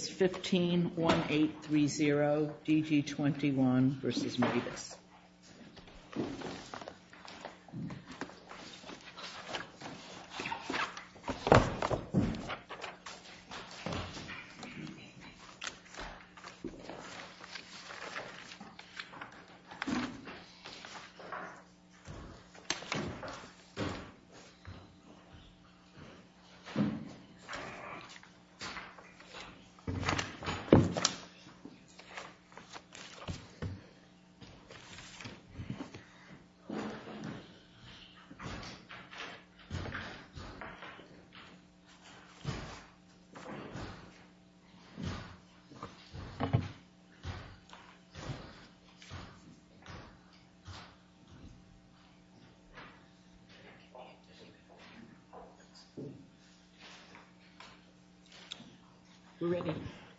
151830 DG21 v. Mabus 151830 DG21 v. Mabus 151830 DG21 v. Mabus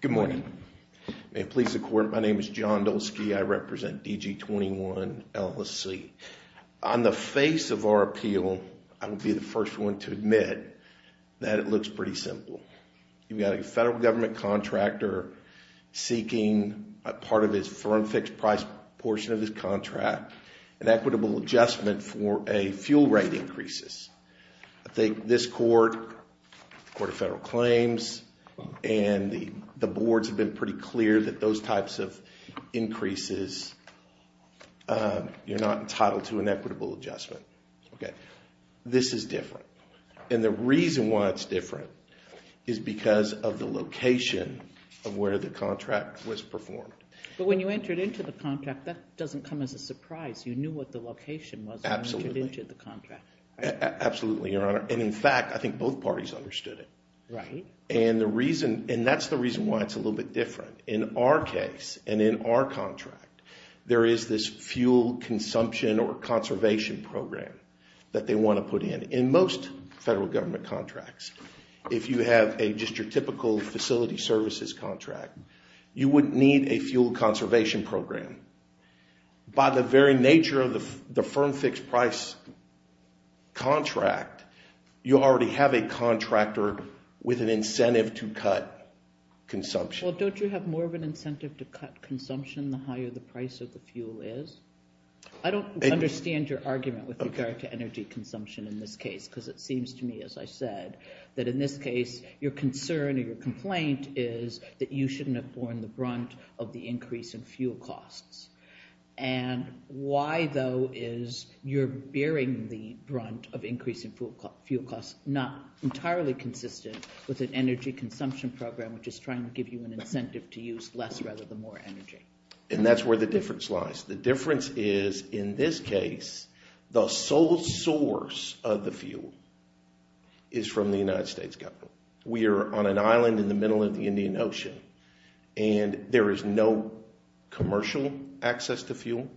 Good morning. May it please the court, my name is John Dolsky. I represent DG21, LLC. On the face of our appeal, I will be the first one to admit that it looks pretty simple. You've got a federal government contractor seeking a part of his firm fixed price portion of his contract, an equitable adjustment for a fuel rate increases. I think this court, the Court of Federal Claims, and the boards have been pretty clear that those types of increases, you're not entitled to an equitable adjustment. This is different. And the reason why it's different is because of the location of where the contract was performed. But when you entered into the contract, that doesn't come as a surprise. You knew what the location was when you entered the contract. Absolutely, Your Honor. And in fact, I think both parties understood it. And that's the reason why it's a little bit different. In our case, and in our contract, there is this fuel consumption or conservation program that they want to put in. In most federal government contracts, if you have a just your typical facility services contract, you would need a fuel conservation program. By the very nature of the firm fixed price contract, you already have a contractor with an incentive to cut consumption. Well, don't you have more of an incentive to cut consumption the higher the price of the fuel is? I don't understand your argument with regard to energy consumption in this case, because it seems to me, as I said, that in this case, your concern or your complaint is that you shouldn't have borne the brunt of the increase in fuel costs. And why, though, is you're bearing the brunt of increase in fuel costs not entirely consistent with an energy consumption program, which is trying to give you an incentive to use less rather than more energy? And that's where the difference lies. The difference is, in this case, the sole source of the fuel is from the United States government. We are on an island in the middle of the Indian Ocean. And there is no commercial access to fuel.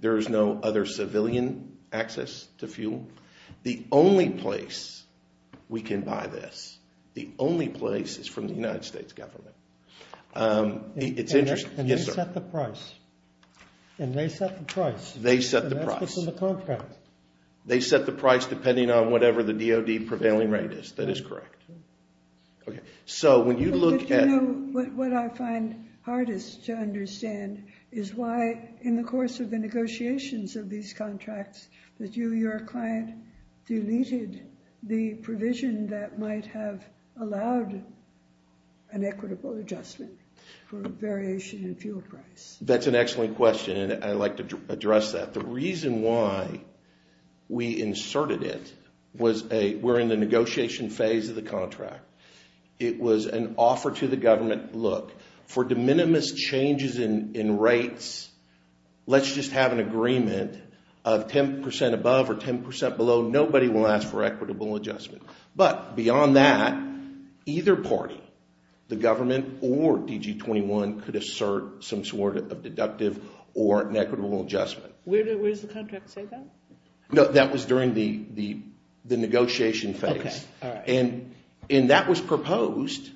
There is no other civilian access to fuel. The only place we can buy this, the only place is from the United States government. It's interesting. And they set the price. And they set the price. They set the price. And that's what's in the contract. They set the price depending on whatever the DOD prevailing rate is. That is correct. So when you look at it. What I find hardest to understand is why, in the course of the negotiations of these contracts, that you, your client, deleted the provision that might have allowed an equitable adjustment for variation in fuel price. That's an excellent question. And I'd like to address that. The reason why we inserted it was we're in the negotiation phase of the contract. It was an offer to the government, look, for de minimis changes in rates, let's just have an agreement of 10% above or 10% below. Nobody will ask for equitable adjustment. But beyond that, either party, the government or DG21, could assert some sort of deductive or an equitable adjustment. Where does the contract say that? No, that was during the negotiation phase. And that was proposed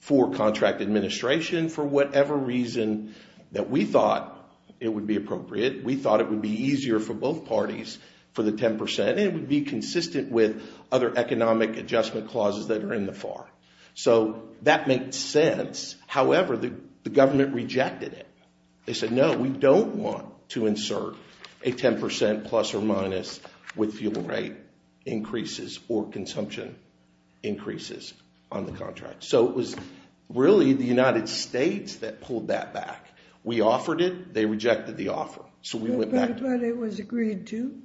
for contract administration for whatever reason that we thought it would be appropriate. We thought it would be easier for both parties for the 10%. And it would be consistent with other economic adjustment clauses that are in the FAR. So that makes sense. However, the government rejected it. They said, no, we don't want to insert a 10% plus or minus with fuel rate increases or consumption increases on the contract. So it was really the United States that pulled that back. We offered it. They rejected the offer. So we went back. But it was agreed to.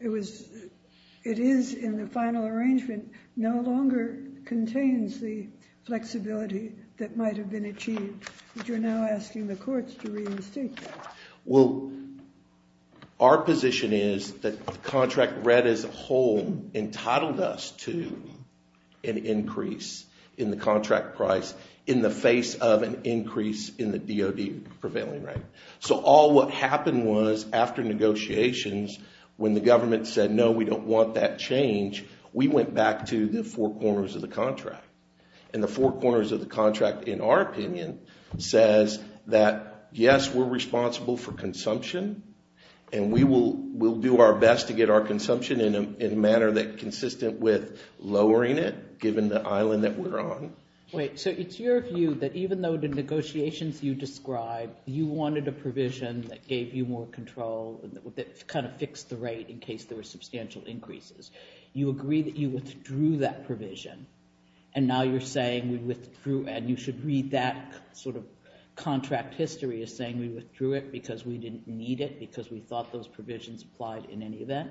It is in the final arrangement, no longer contains the flexibility that might have been achieved. But you're now asking the courts to reinstate that. Well, our position is that the contract read as a whole entitled us to an increase in the contract price in the face of an increase in the DOD prevailing rate. So all what happened was, after negotiations, when the government said, no, we don't want that change, we went back to the four corners of the contract. And the four corners of the contract, in our opinion, says that, yes, we're responsible for consumption. And we will do our best to get our consumption in a manner consistent with lowering it, given the island that we're on. Wait, so it's your view that, even though the negotiations you described, you wanted a provision that gave you more control, that kind of fixed the rate in case there were substantial increases, you agree that you withdrew that provision. And now you're saying, we withdrew and you should read that sort of contract history as saying we withdrew it because we didn't need it, because we thought those provisions applied in any event?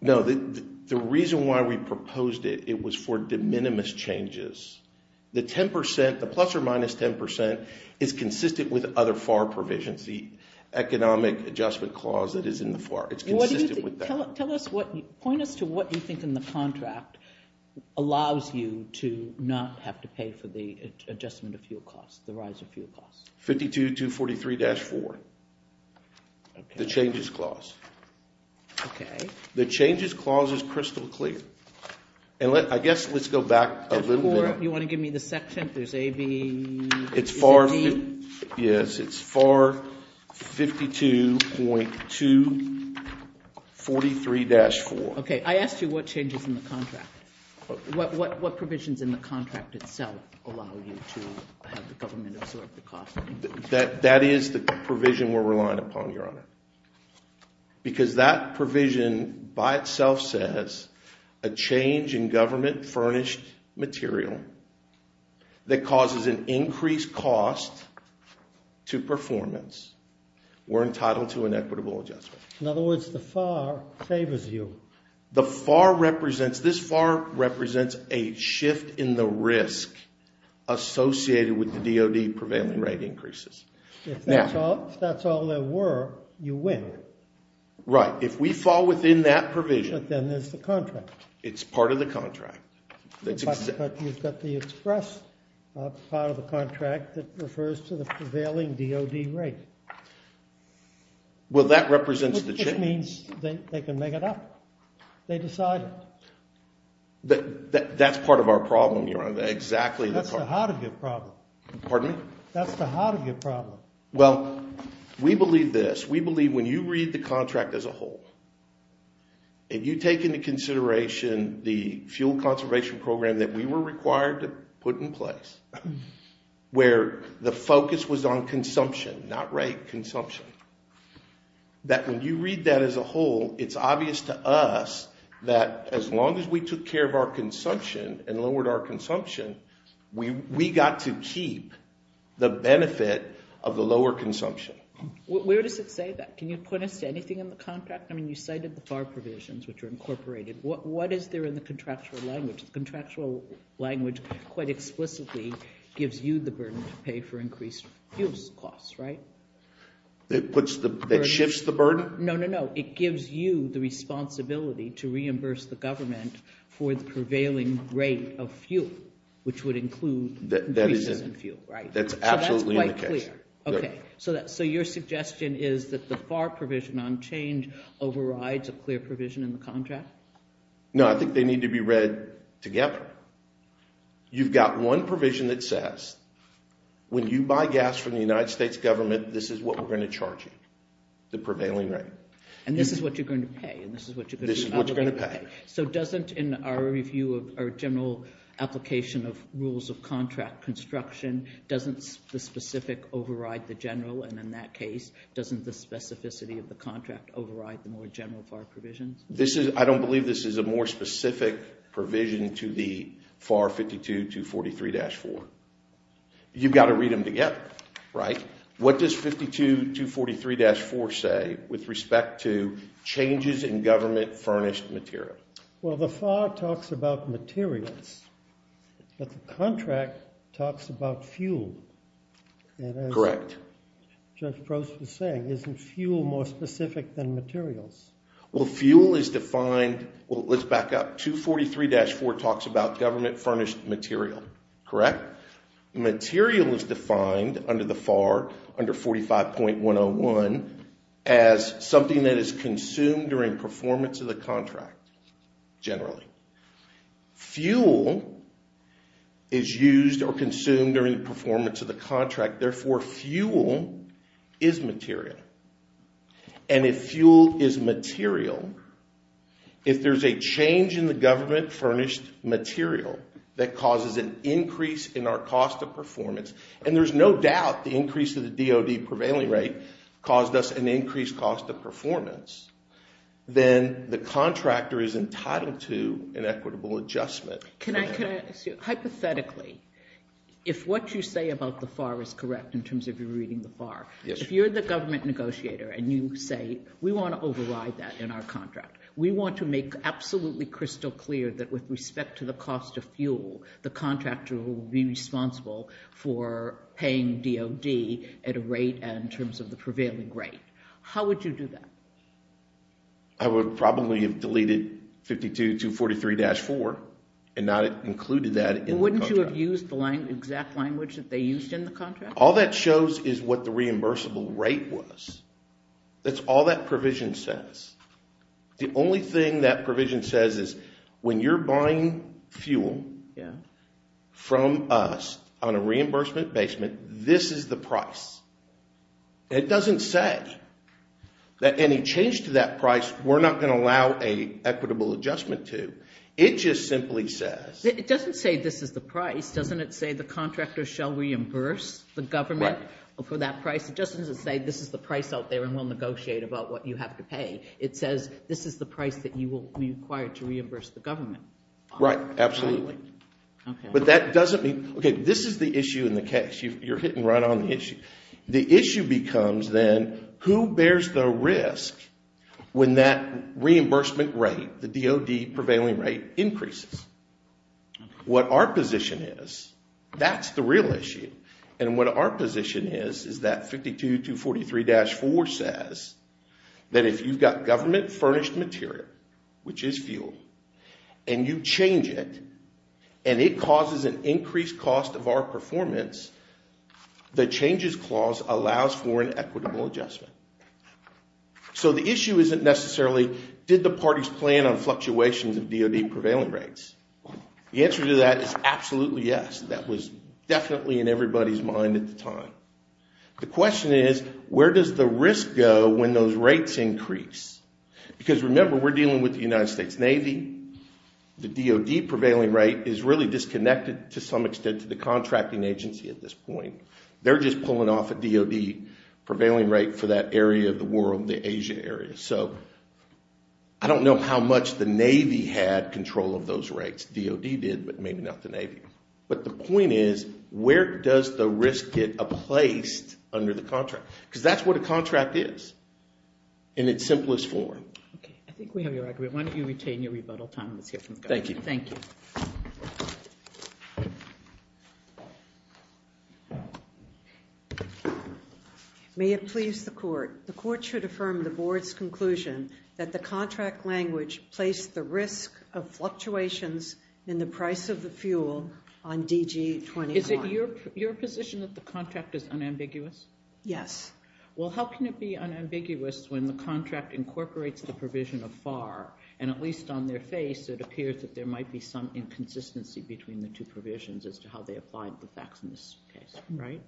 No, the reason why we proposed it, it was for de minimis changes. The 10%, the plus or minus 10%, is consistent with other FAR provisions, the Economic Adjustment Clause that is in the FAR. It's consistent with that. Tell us what, point us to what you to not have to pay for the adjustment of fuel costs, the rise of fuel costs. 52.243-4, the Changes Clause. The Changes Clause is crystal clear. And I guess, let's go back a little bit. You want to give me the section? There's A, B, C, D? Yes, it's FAR 52.243-4. OK, I asked you what changes in the contract. What provisions in the contract itself allow you to have the government absorb the costs? That is the provision we're relying upon, Your Honor. Because that provision by itself says a change in government furnished material that causes an increased cost to performance, we're entitled to an equitable adjustment. In other words, the FAR favors you. The FAR represents, this FAR represents a shift in the risk associated with the DOD prevailing rate increases. If that's all there were, you win. Right, if we fall within that provision. But then there's the contract. It's part of the contract. But you've got the express part of the contract that refers to the prevailing DOD rate. Well, that represents the change. That means they can make it up. They decide it. That's part of our problem, Your Honor. That's the heart of your problem. Pardon me? That's the heart of your problem. Well, we believe this. We believe when you read the contract as a whole, if you take into consideration the fuel conservation program that we were required to put in place, where the focus was on consumption, not rate, then as a whole, it's obvious to us that as long as we took care of our consumption and lowered our consumption, we got to keep the benefit of the lower consumption. Where does it say that? Can you point us to anything in the contract? I mean, you cited the FAR provisions, which are incorporated. What is there in the contractual language? The contractual language quite explicitly It puts the, it shifts the burden? No, no, no. It gives you the responsibility to reimburse the government for the prevailing rate of fuel, which would include increases in fuel, right? That's absolutely in the case. So that's quite clear. So your suggestion is that the FAR provision on change overrides a clear provision in the contract? No, I think they need to be read together. You've got one provision that says, when you buy gas from the United States government, this is what we're going to charge you, the prevailing rate. And this is what you're going to pay. And this is what you're going to pay. So doesn't, in our review of our general application of rules of contract construction, doesn't the specific override the general? And in that case, doesn't the specificity of the contract override the more general FAR provisions? I don't believe this is a more specific provision to the FAR 52-243-4. You've got to read them together, right? What does 52-243-4 say with respect to changes in government furnished material? Well, the FAR talks about materials. But the contract talks about fuel. Correct. Judge Prost was saying, isn't fuel more specific than materials? Well, fuel is defined. Well, let's back up. 243-4 talks about government furnished material, correct? Material is defined under the FAR, under 45.101, as something that is consumed during performance of the contract, generally. Fuel is used or consumed during performance of the contract. Therefore, fuel is material. And if fuel is material, if there's a change in the government furnished material that causes an increase in our cost of performance, and there's no doubt the increase of the DOD prevailing rate caused us an increased cost of performance, then the contractor is entitled to an equitable adjustment. Hypothetically, if what you say about the FAR is correct in terms of you reading the FAR, if you're the government negotiator and you say, we want to override that in our contract, we want to make absolutely crystal clear that with respect to the cost of fuel, the contractor will be responsible for paying DOD at a rate in terms of the prevailing rate. How would you do that? I would probably have deleted 52-243-4 and not included that in the contract. Wouldn't you have used the exact language that they used in the contract? All that shows is what the reimbursable rate was. That's all that provision says. The only thing that provision says is when you're buying fuel from us on a reimbursement basement, this is the price. It doesn't say that any change to that price, we're not going to allow an equitable adjustment to. It just simply says. It doesn't say this is the price. Doesn't it say the contractor shall reimburse the government for that price? It doesn't say this is the price out there and we'll negotiate about what you have to pay. It says this is the price that you will be required to reimburse the government. Right, absolutely. But that doesn't mean, OK, this is the issue in the case. You're hitting right on the issue. The issue becomes then, who bears the risk when that reimbursement rate, the DOD prevailing rate, increases? What our position is, that's the real issue. And what our position is, is that 52-243-4 says that if you've got government furnished material, which is fuel, and you change it, and it causes an increased cost of our performance, the changes clause allows for an equitable adjustment. So the issue isn't necessarily, did the parties plan on fluctuations of DOD prevailing rates? The answer to that is absolutely yes. That was definitely in everybody's mind at the time. The question is, where does the risk go when those rates increase? Because remember, we're dealing with the United States Navy. The DOD prevailing rate is really disconnected to some extent to the contracting agency at this point. They're just pulling off a DOD prevailing rate for that area of the world, the Asia area. So I don't know how much the Navy had control of those rates. DOD did, but maybe not the Navy. But the point is, where does the risk get placed under the contract? Because that's what a contract is in its simplest form. I think we have your record. Why don't you retain your rebuttal, Tom? Let's hear from the governor. Thank you. Thank you. May it please the court, the court should affirm the board's conclusion that the contract language placed the risk of fluctuations in the price of the fuel on DG-20-R. Is it your position that the contract is unambiguous? Yes. Well, how can it be unambiguous when the contract incorporates the provision of FAR? And at least on their face, it appears that there might be some inconsistency between the two provisions as to how they apply the facts in this case, right?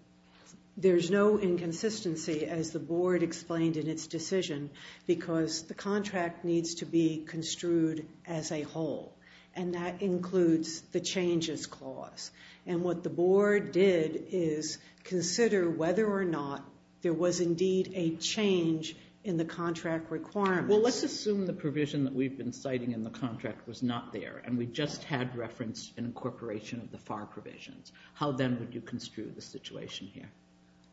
There's no inconsistency, as the board explained in its decision, because the contract needs to be construed as a whole. And that includes the changes clause. And what the board did is consider whether or not there was indeed a change in the contract requirements. Well, let's assume the provision that we've been citing in the contract was not there, and we just had reference in incorporation of the FAR provisions. How then would you construe the situation here?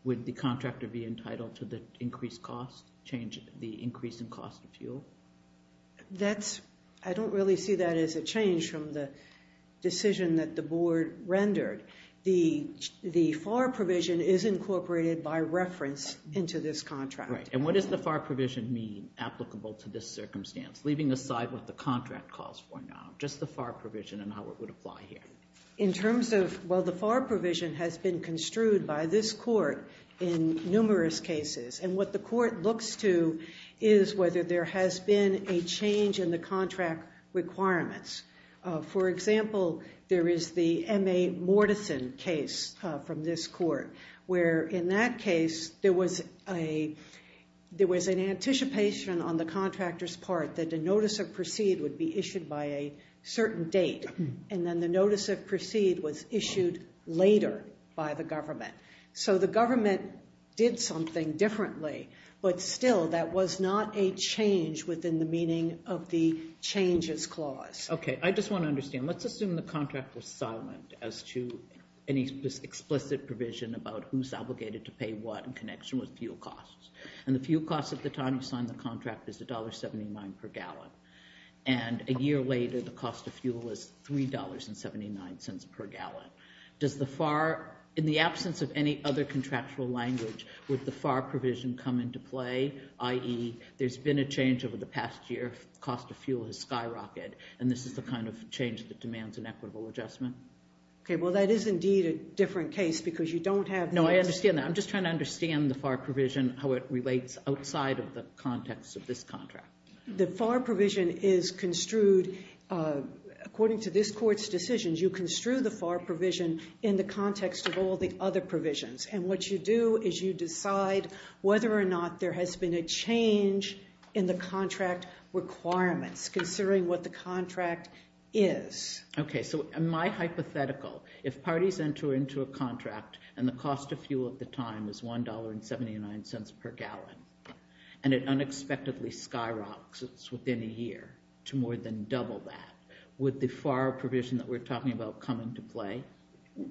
Would the contractor be entitled to the increased cost change, the increase in cost of fuel? I don't really see that as a change from the decision that the board rendered. The FAR provision is incorporated by reference into this contract. And what does the FAR provision mean applicable to this circumstance, leaving aside what the contract calls for now, just the FAR provision and how it would apply here? In terms of, well, the FAR provision has been construed by this court in numerous cases. And what the court looks to is whether there has been a change in the contract requirements. For example, there is the M.A. Mortison case from this court, where in that case, there was an anticipation on the contractor's part that a notice of proceed would be issued by a certain date. And then the notice of proceed was issued later by the government. So the government did something differently. But still, that was not a change within the meaning of the changes clause. OK. I just want to understand. Let's assume the contract was silent as to any explicit provision about who's obligated to pay what in connection with fuel costs. And the fuel costs at the time you signed the contract is $1.79 per gallon. And a year later, the cost of fuel is $3.79 per gallon. Does the FAR, in the absence of any other contractual language, would the FAR provision come into play? I.e., there's been a change over the past year. Cost of fuel has skyrocketed. And this is the kind of change that demands an equitable adjustment. OK, well, that is indeed a different case. Because you don't have notice. No, I understand that. I'm just trying to understand the FAR provision, how it relates outside of the context of this contract. The FAR provision is construed. According to this court's decisions, you construe the FAR provision in the context of all the other provisions. And what you do is you decide whether or not there has been a change in the contract requirements, considering what the contract is. OK, so in my hypothetical, if parties enter into a contract and the cost of fuel at the time is $1.79 per gallon, and it unexpectedly skyrockets within a year to more than double that, would the FAR provision that we're talking about come into play?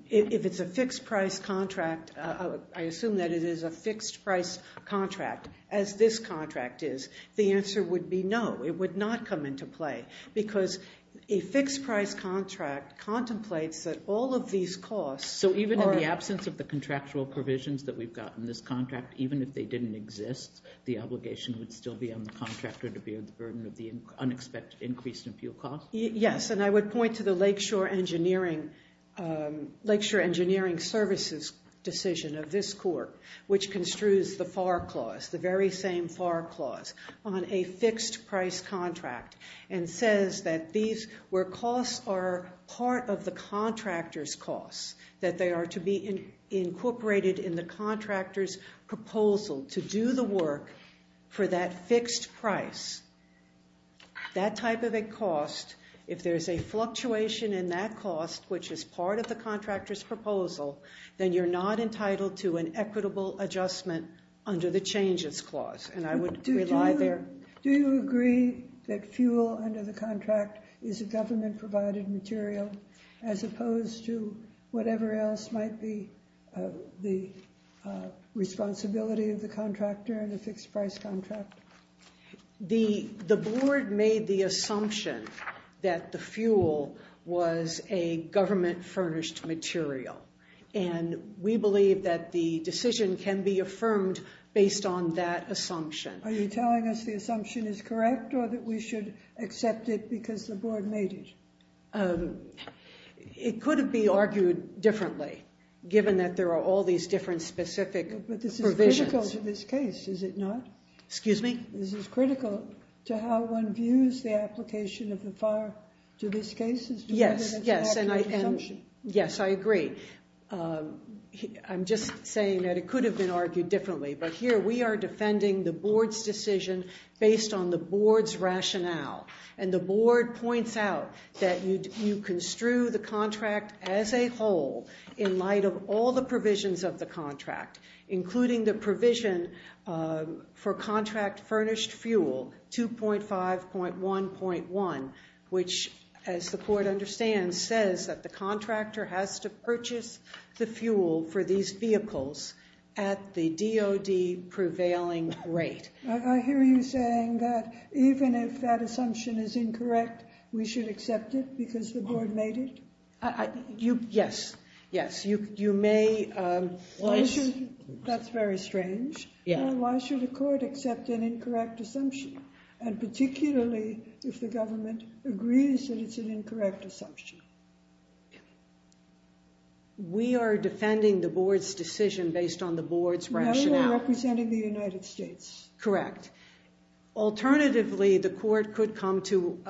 If it's a fixed-price contract, I assume that it is a fixed-price contract, as this contract is. The answer would be no. It would not come into play. Because a fixed-price contract contemplates that all of these costs are- So even in the absence of the contractual provisions that we've got in this contract, even if they didn't exist, the obligation would still be on the contractor to bear the burden of the unexpected increase in fuel costs? Yes. And I would point to the Lakeshore Engineering Services decision of this court, which construes the FAR clause, the very same FAR clause, on a fixed-price contract, and says that where costs are part of the contractor's costs, that they are to be incorporated in the contractor's proposal to do the work for that fixed price, that type of a cost, if there is a fluctuation in that cost, which is part of the contractor's proposal, then you're not entitled to an equitable adjustment under the changes clause. And I would rely there- Do you agree that fuel under the contract is a government-provided material, as opposed to whatever else might be the responsibility of the contractor in a fixed-price contract? The board made the assumption that the fuel was a government-furnished material. And we believe that the decision can be affirmed based on that assumption. Are you telling us the assumption is correct, or that we should accept it because the board made it? It could be argued differently, given that there are all these different specific provisions. But this is critical to this case, is it not? Excuse me? This is critical to how one views the application of the FAR to these cases. Yes, yes. And I agree. I'm just saying that it could have been argued differently. But here, we are defending the board's decision based on the board's rationale. And the board points out that you construe the contract as a whole, in light of all the provisions of the contract, including the provision for contract-furnished fuel, 2.5.1.1, which, as the court understands, says that the contractor has to purchase the fuel for these vehicles at the DOD prevailing rate. I hear you saying that even if that assumption is incorrect, we should accept it because the board made it? Yes, yes. You may. That's very strange. Why should the court accept an incorrect assumption? And particularly, if the government agrees that it's an incorrect assumption? We are defending the board's decision based on the board's rationale. No, we're representing the United States. Correct. Alternatively, the court could come to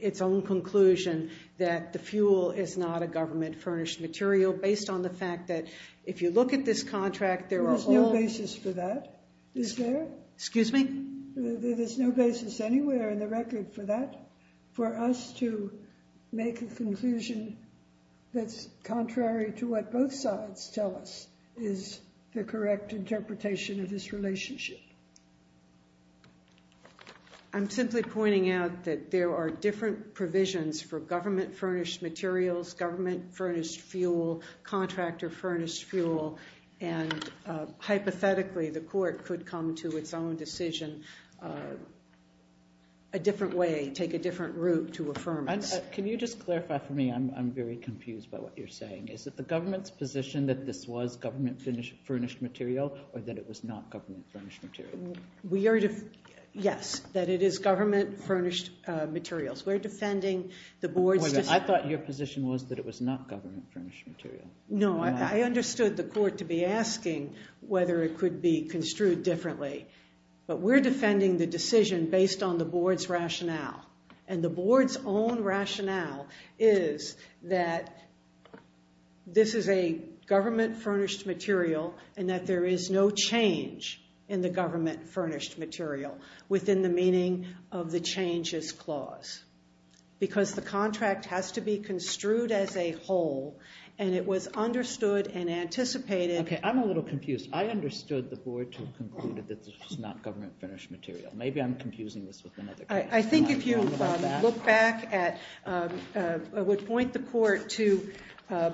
its own conclusion that the fuel is not a government-furnished material based on the fact that, if you look at this contract, there are all... There's no basis for that, is there? Excuse me? There's no basis anywhere in the record for that, for us to make a conclusion that's contrary to what both sides tell us is the correct interpretation of this relationship. I'm simply pointing out that there are different provisions for government-furnished materials, government-furnished fuel, contractor-furnished fuel. And hypothetically, the court could come to its own decision a different way, take a different route to affirm it. Can you just clarify for me? I'm very confused by what you're saying. Is it the government's position that this was government-furnished material, or that it was not government-furnished material? Yes, that it is government-furnished materials. We're defending the board's decision. I thought your position was that it was not government-furnished material. No, I understood the court to be asking whether it could be construed differently. But we're defending the decision based on the board's rationale. And the board's own rationale is that this is a government-furnished material, and that there is no change in the government-furnished material within the meaning of the changes clause. Because the contract has to be construed as a whole. And it was understood and anticipated. OK, I'm a little confused. I understood the board to have concluded that this was not government-furnished material. Maybe I'm confusing this with another case. I think if you look back at, I would point the court to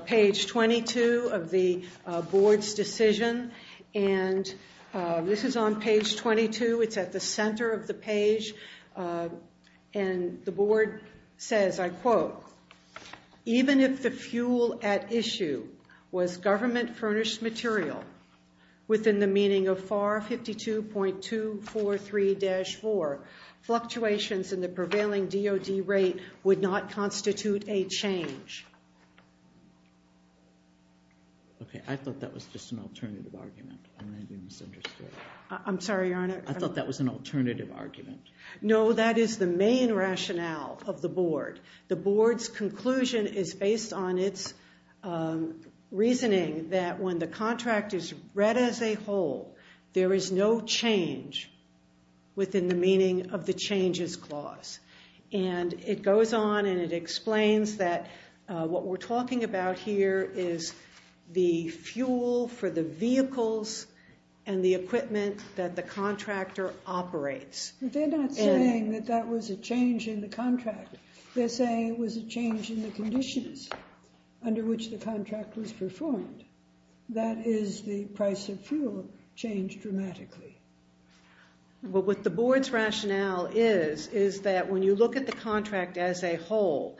page 22 of the board's decision. And this is on page 22. It's at the center of the page. And the board says, I quote, even if the fuel at issue was government-furnished material within the meaning of FAR 52.243-4, fluctuations in the prevailing DOD rate would not constitute a change. OK, I thought that was just an alternative argument. And then you misunderstood. I'm sorry, Your Honor. I thought that was an alternative argument. No, that is the main rationale of the board. The board's conclusion is based on its reasoning that when the contract is read as a whole, there is no change within the meaning of the changes clause. And it goes on and it explains that what we're talking about here is the fuel for the vehicles and the equipment that the contractor operates. But they're not saying that that was a change in the contract. They're saying it was a change in the conditions under which the contract was performed. That is, the price of fuel changed dramatically. Well, what the board's rationale is is that when you look at the contract as a whole,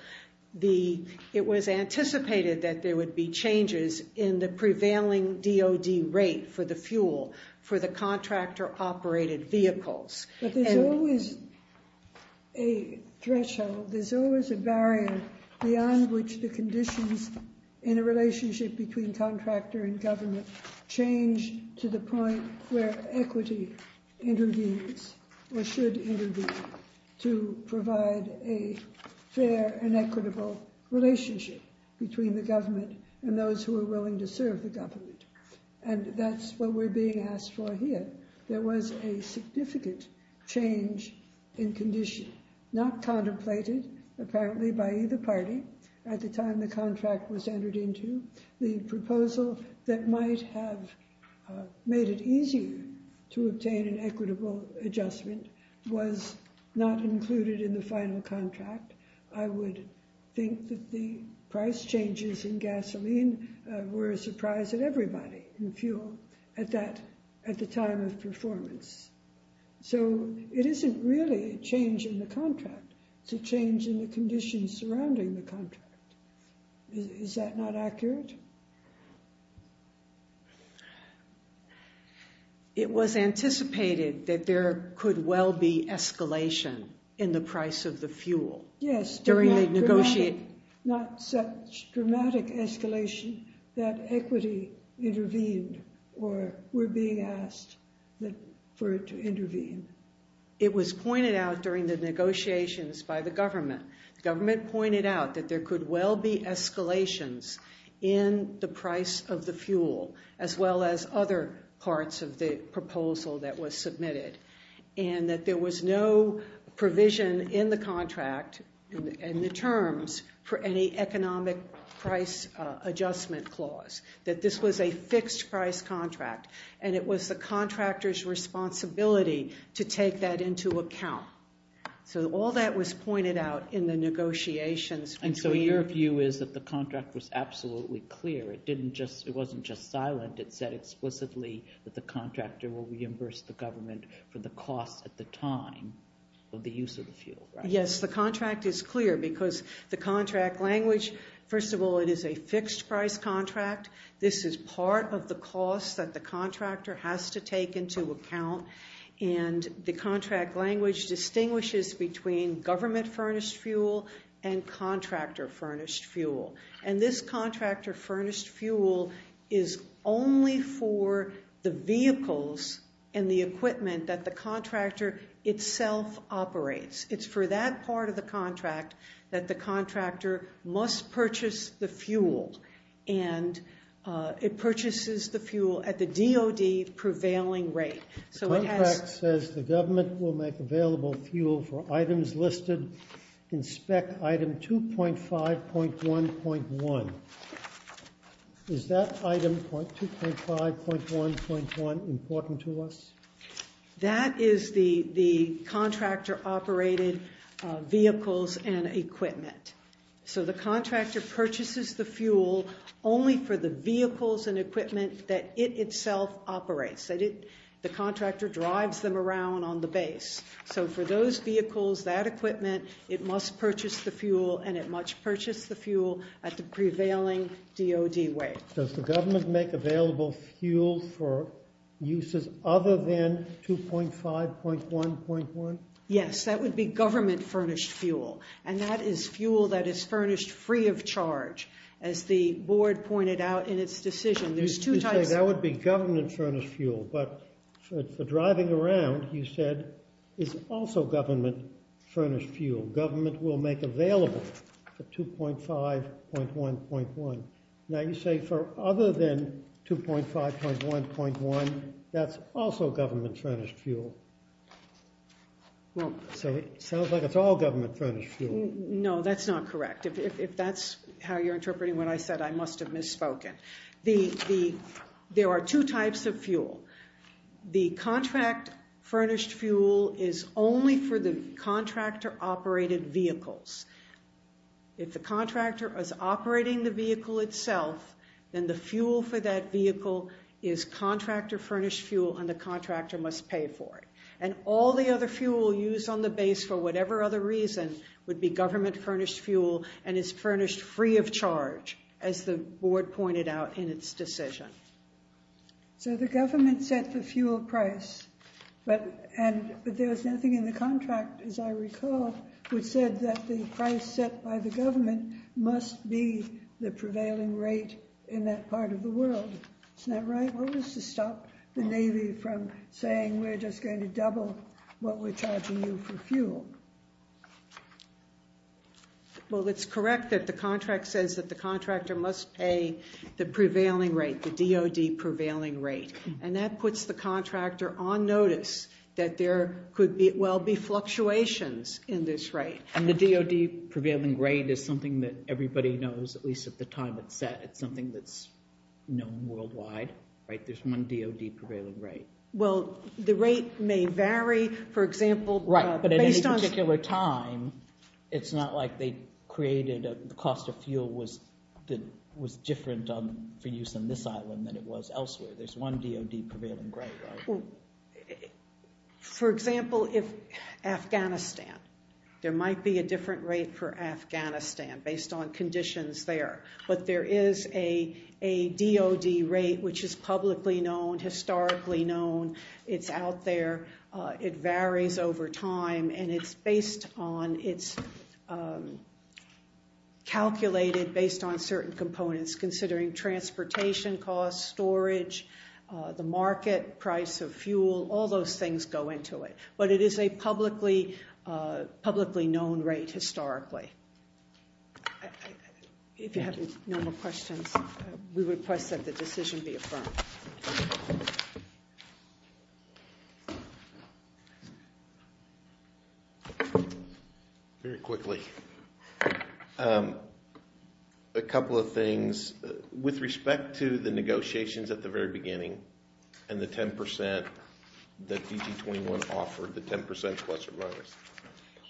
it was anticipated that there would be changes in the prevailing DOD rate for the fuel for the contractor-operated vehicles. But there's always a threshold. There's always a barrier beyond which the conditions in a relationship between contractor and government change to the point where equity intervenes or should intervene to provide a fair and equitable relationship between the government and those who are willing to serve the government. And that's what we're being asked for here. There was a significant change in condition, not contemplated, apparently, by either party at the time the contract was entered into. The proposal that might have made it easier to obtain an equitable adjustment was not included in the final contract. I would think that the price changes in gasoline were a surprise at everybody in fuel at the time of performance. So it isn't really a change in the contract. It's a change in the conditions surrounding the contract. Is that not accurate? It was anticipated that there could well be escalation in the price of the fuel during the negotiation. Not such dramatic escalation that equity intervened or we're being asked for it to intervene. It was pointed out during the negotiations by the government. The government pointed out that there could well be escalations in the price of the fuel, as well as other parts of the proposal that was submitted. And that there was no provision in the contract and the terms for any economic price adjustment clause. That this was a fixed price contract. And it was the contractor's responsibility to take that into account. So all that was pointed out in the negotiations. And so your view is that the contract was absolutely clear. It didn't just, it wasn't just silent. It said explicitly that the contractor will reimburse the government for the costs at the time of the use of the fuel, right? Yes, the contract is clear. Because the contract language, first of all, it is a fixed price contract. This is part of the cost that the contractor has to take into account. And the contract language distinguishes between government furnished fuel and contractor furnished fuel. And this contractor furnished fuel is only for the vehicles and the equipment that the contractor itself operates. It's for that part of the contract that the contractor must purchase the fuel. And it purchases the fuel at the DOD prevailing rate. So it has- The contract says the government will make available fuel for items listed in spec item 2.5.1.1. Is that item 2.5.1.1 important to us? That is the contractor operated vehicles and equipment. So the contractor purchases the fuel only for the vehicles and equipment that it itself operates. The contractor drives them around on the base. So for those vehicles, that equipment, it must purchase the fuel, and it must purchase the fuel at the prevailing DOD rate. Does the government make available fuel for uses other than 2.5.1.1? Yes, that would be government furnished fuel. And that is fuel that is furnished free of charge, as the board pointed out in its decision. There's two types- You say that would be government furnished fuel, but for driving around, you said, it's also government furnished fuel. Government will make available for 2.5.1.1. Now you say for other than 2.5.1.1, that's also government furnished fuel. So it sounds like it's all government furnished fuel. No, that's not correct. If that's how you're interpreting what I said, I must have misspoken. There are two types of fuel. The contract furnished fuel is only for the contractor operated vehicles. If the contractor is operating the vehicle itself, then the fuel for that vehicle is contractor furnished fuel and the contractor must pay for it. And all the other fuel used on the base for whatever other reason would be government furnished fuel and is furnished free of charge, as the board pointed out in its decision. So the government set the fuel price, but there was nothing in the contract, as I recall, which said that the price set by the government must be the prevailing rate in that part of the world. Isn't that right? What was to stop the Navy from saying we're just going to double what we're charging you for fuel? Well, it's correct that the contract says that the contractor must pay the prevailing rate, the DOD prevailing rate. And that puts the contractor on notice that there could well be fluctuations in this rate. And the DOD prevailing rate is something that everybody knows, at least at the time it's set, it's something that's known worldwide, right? There's one DOD prevailing rate. Well, the rate may vary, for example, based on- Right, but at any particular time, it's not like the cost of fuel was different for use on this island than it was elsewhere. There's one DOD prevailing rate, right? For example, if Afghanistan, there might be a different rate for Afghanistan based on conditions there. But there is a DOD rate which is publicly known, historically known, it's out there, it varies over time, and it's based on, considering transportation costs, storage, the market price of fuel, all those things go into it. But it is a publicly known rate, historically. If you have no more questions, we request that the decision be affirmed. Very quickly. A couple of things. With respect to the negotiations at the very beginning, and the 10% that DT21 offered, the 10% plus or minus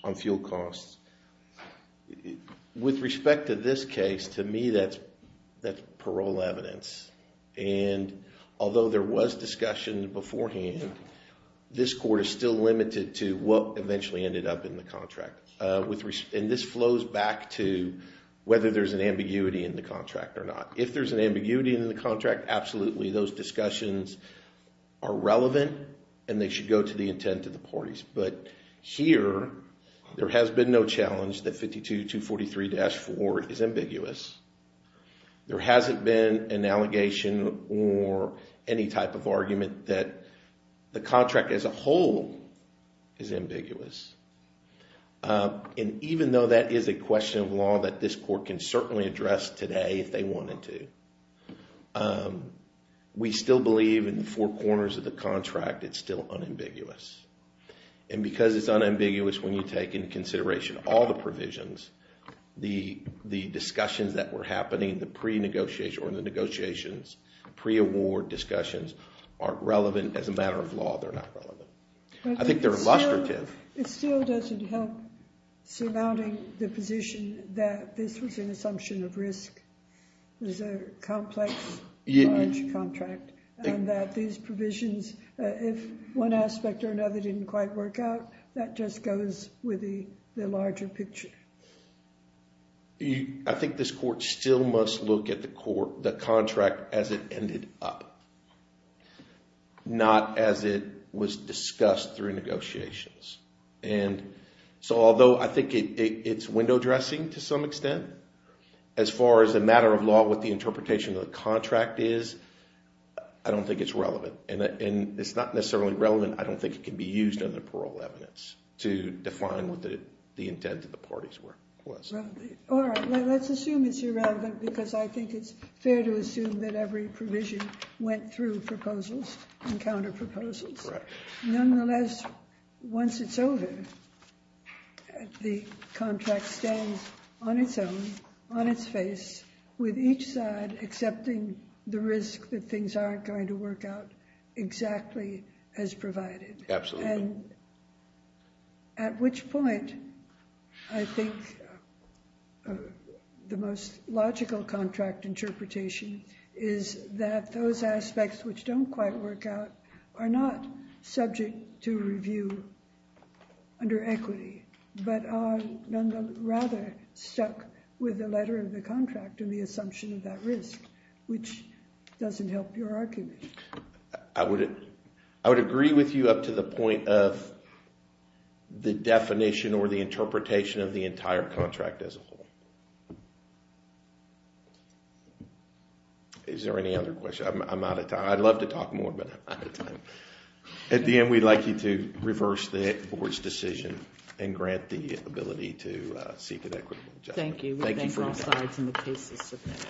on fuel costs, with respect to this case, to me, that's parole evidence. And although there was discussion beforehand, this court is still limited to what eventually ended up in the contract. And this flows back to whether there's an ambiguity in the contract or not. If there's an ambiguity in the contract, absolutely, those discussions are relevant, and they should go to the intent of the parties. But here, there has been no challenge that 52243-4 is ambiguous. There hasn't been an allegation or any type of argument that the contract as a whole is ambiguous. And even though that is a question of law that this court can certainly address today if they wanted to, we still believe in the four corners of the contract it's still unambiguous. And because it's unambiguous when you take into consideration all the provisions, the discussions that were happening, the pre-negotiations, pre-award discussions, aren't relevant as a matter of law. They're not relevant. I think they're illustrative. It still doesn't help surmounting the position that this was an assumption of risk. It was a complex, large contract, and that these provisions, if one aspect or another didn't quite work out, that just goes with the larger picture. I think this court still must look at the contract as it ended up, not as it was discussed through negotiations. And so although I think it's window dressing to some extent as far as a matter of law with the interpretation of the contract is, I don't think it's relevant. And it's not necessarily relevant, I don't think it can be used under parole evidence to define what the intent of the parties was. All right, let's assume it's irrelevant because I think it's fair to assume that every provision went through proposals and counter-proposals. Nonetheless, once it's over, the contract stands on its own, on its face, with each side accepting the risk that things aren't going to work out exactly as provided. Absolutely. And at which point, I think the most logical contract interpretation is that those aspects which don't quite work out are not subject to review under equity, but are rather stuck with the letter of the contract and the assumption of that risk, which doesn't help your argument. I would agree with you up to the point of the definition or the interpretation of the entire contract as a whole. Is there any other question? I'm out of time. I'd love to talk more, but I'm out of time. At the end, we'd like you to reverse the board's decision and grant the ability to seek an equitable judgment. Thank you. We'll thank all sides in the cases submitted.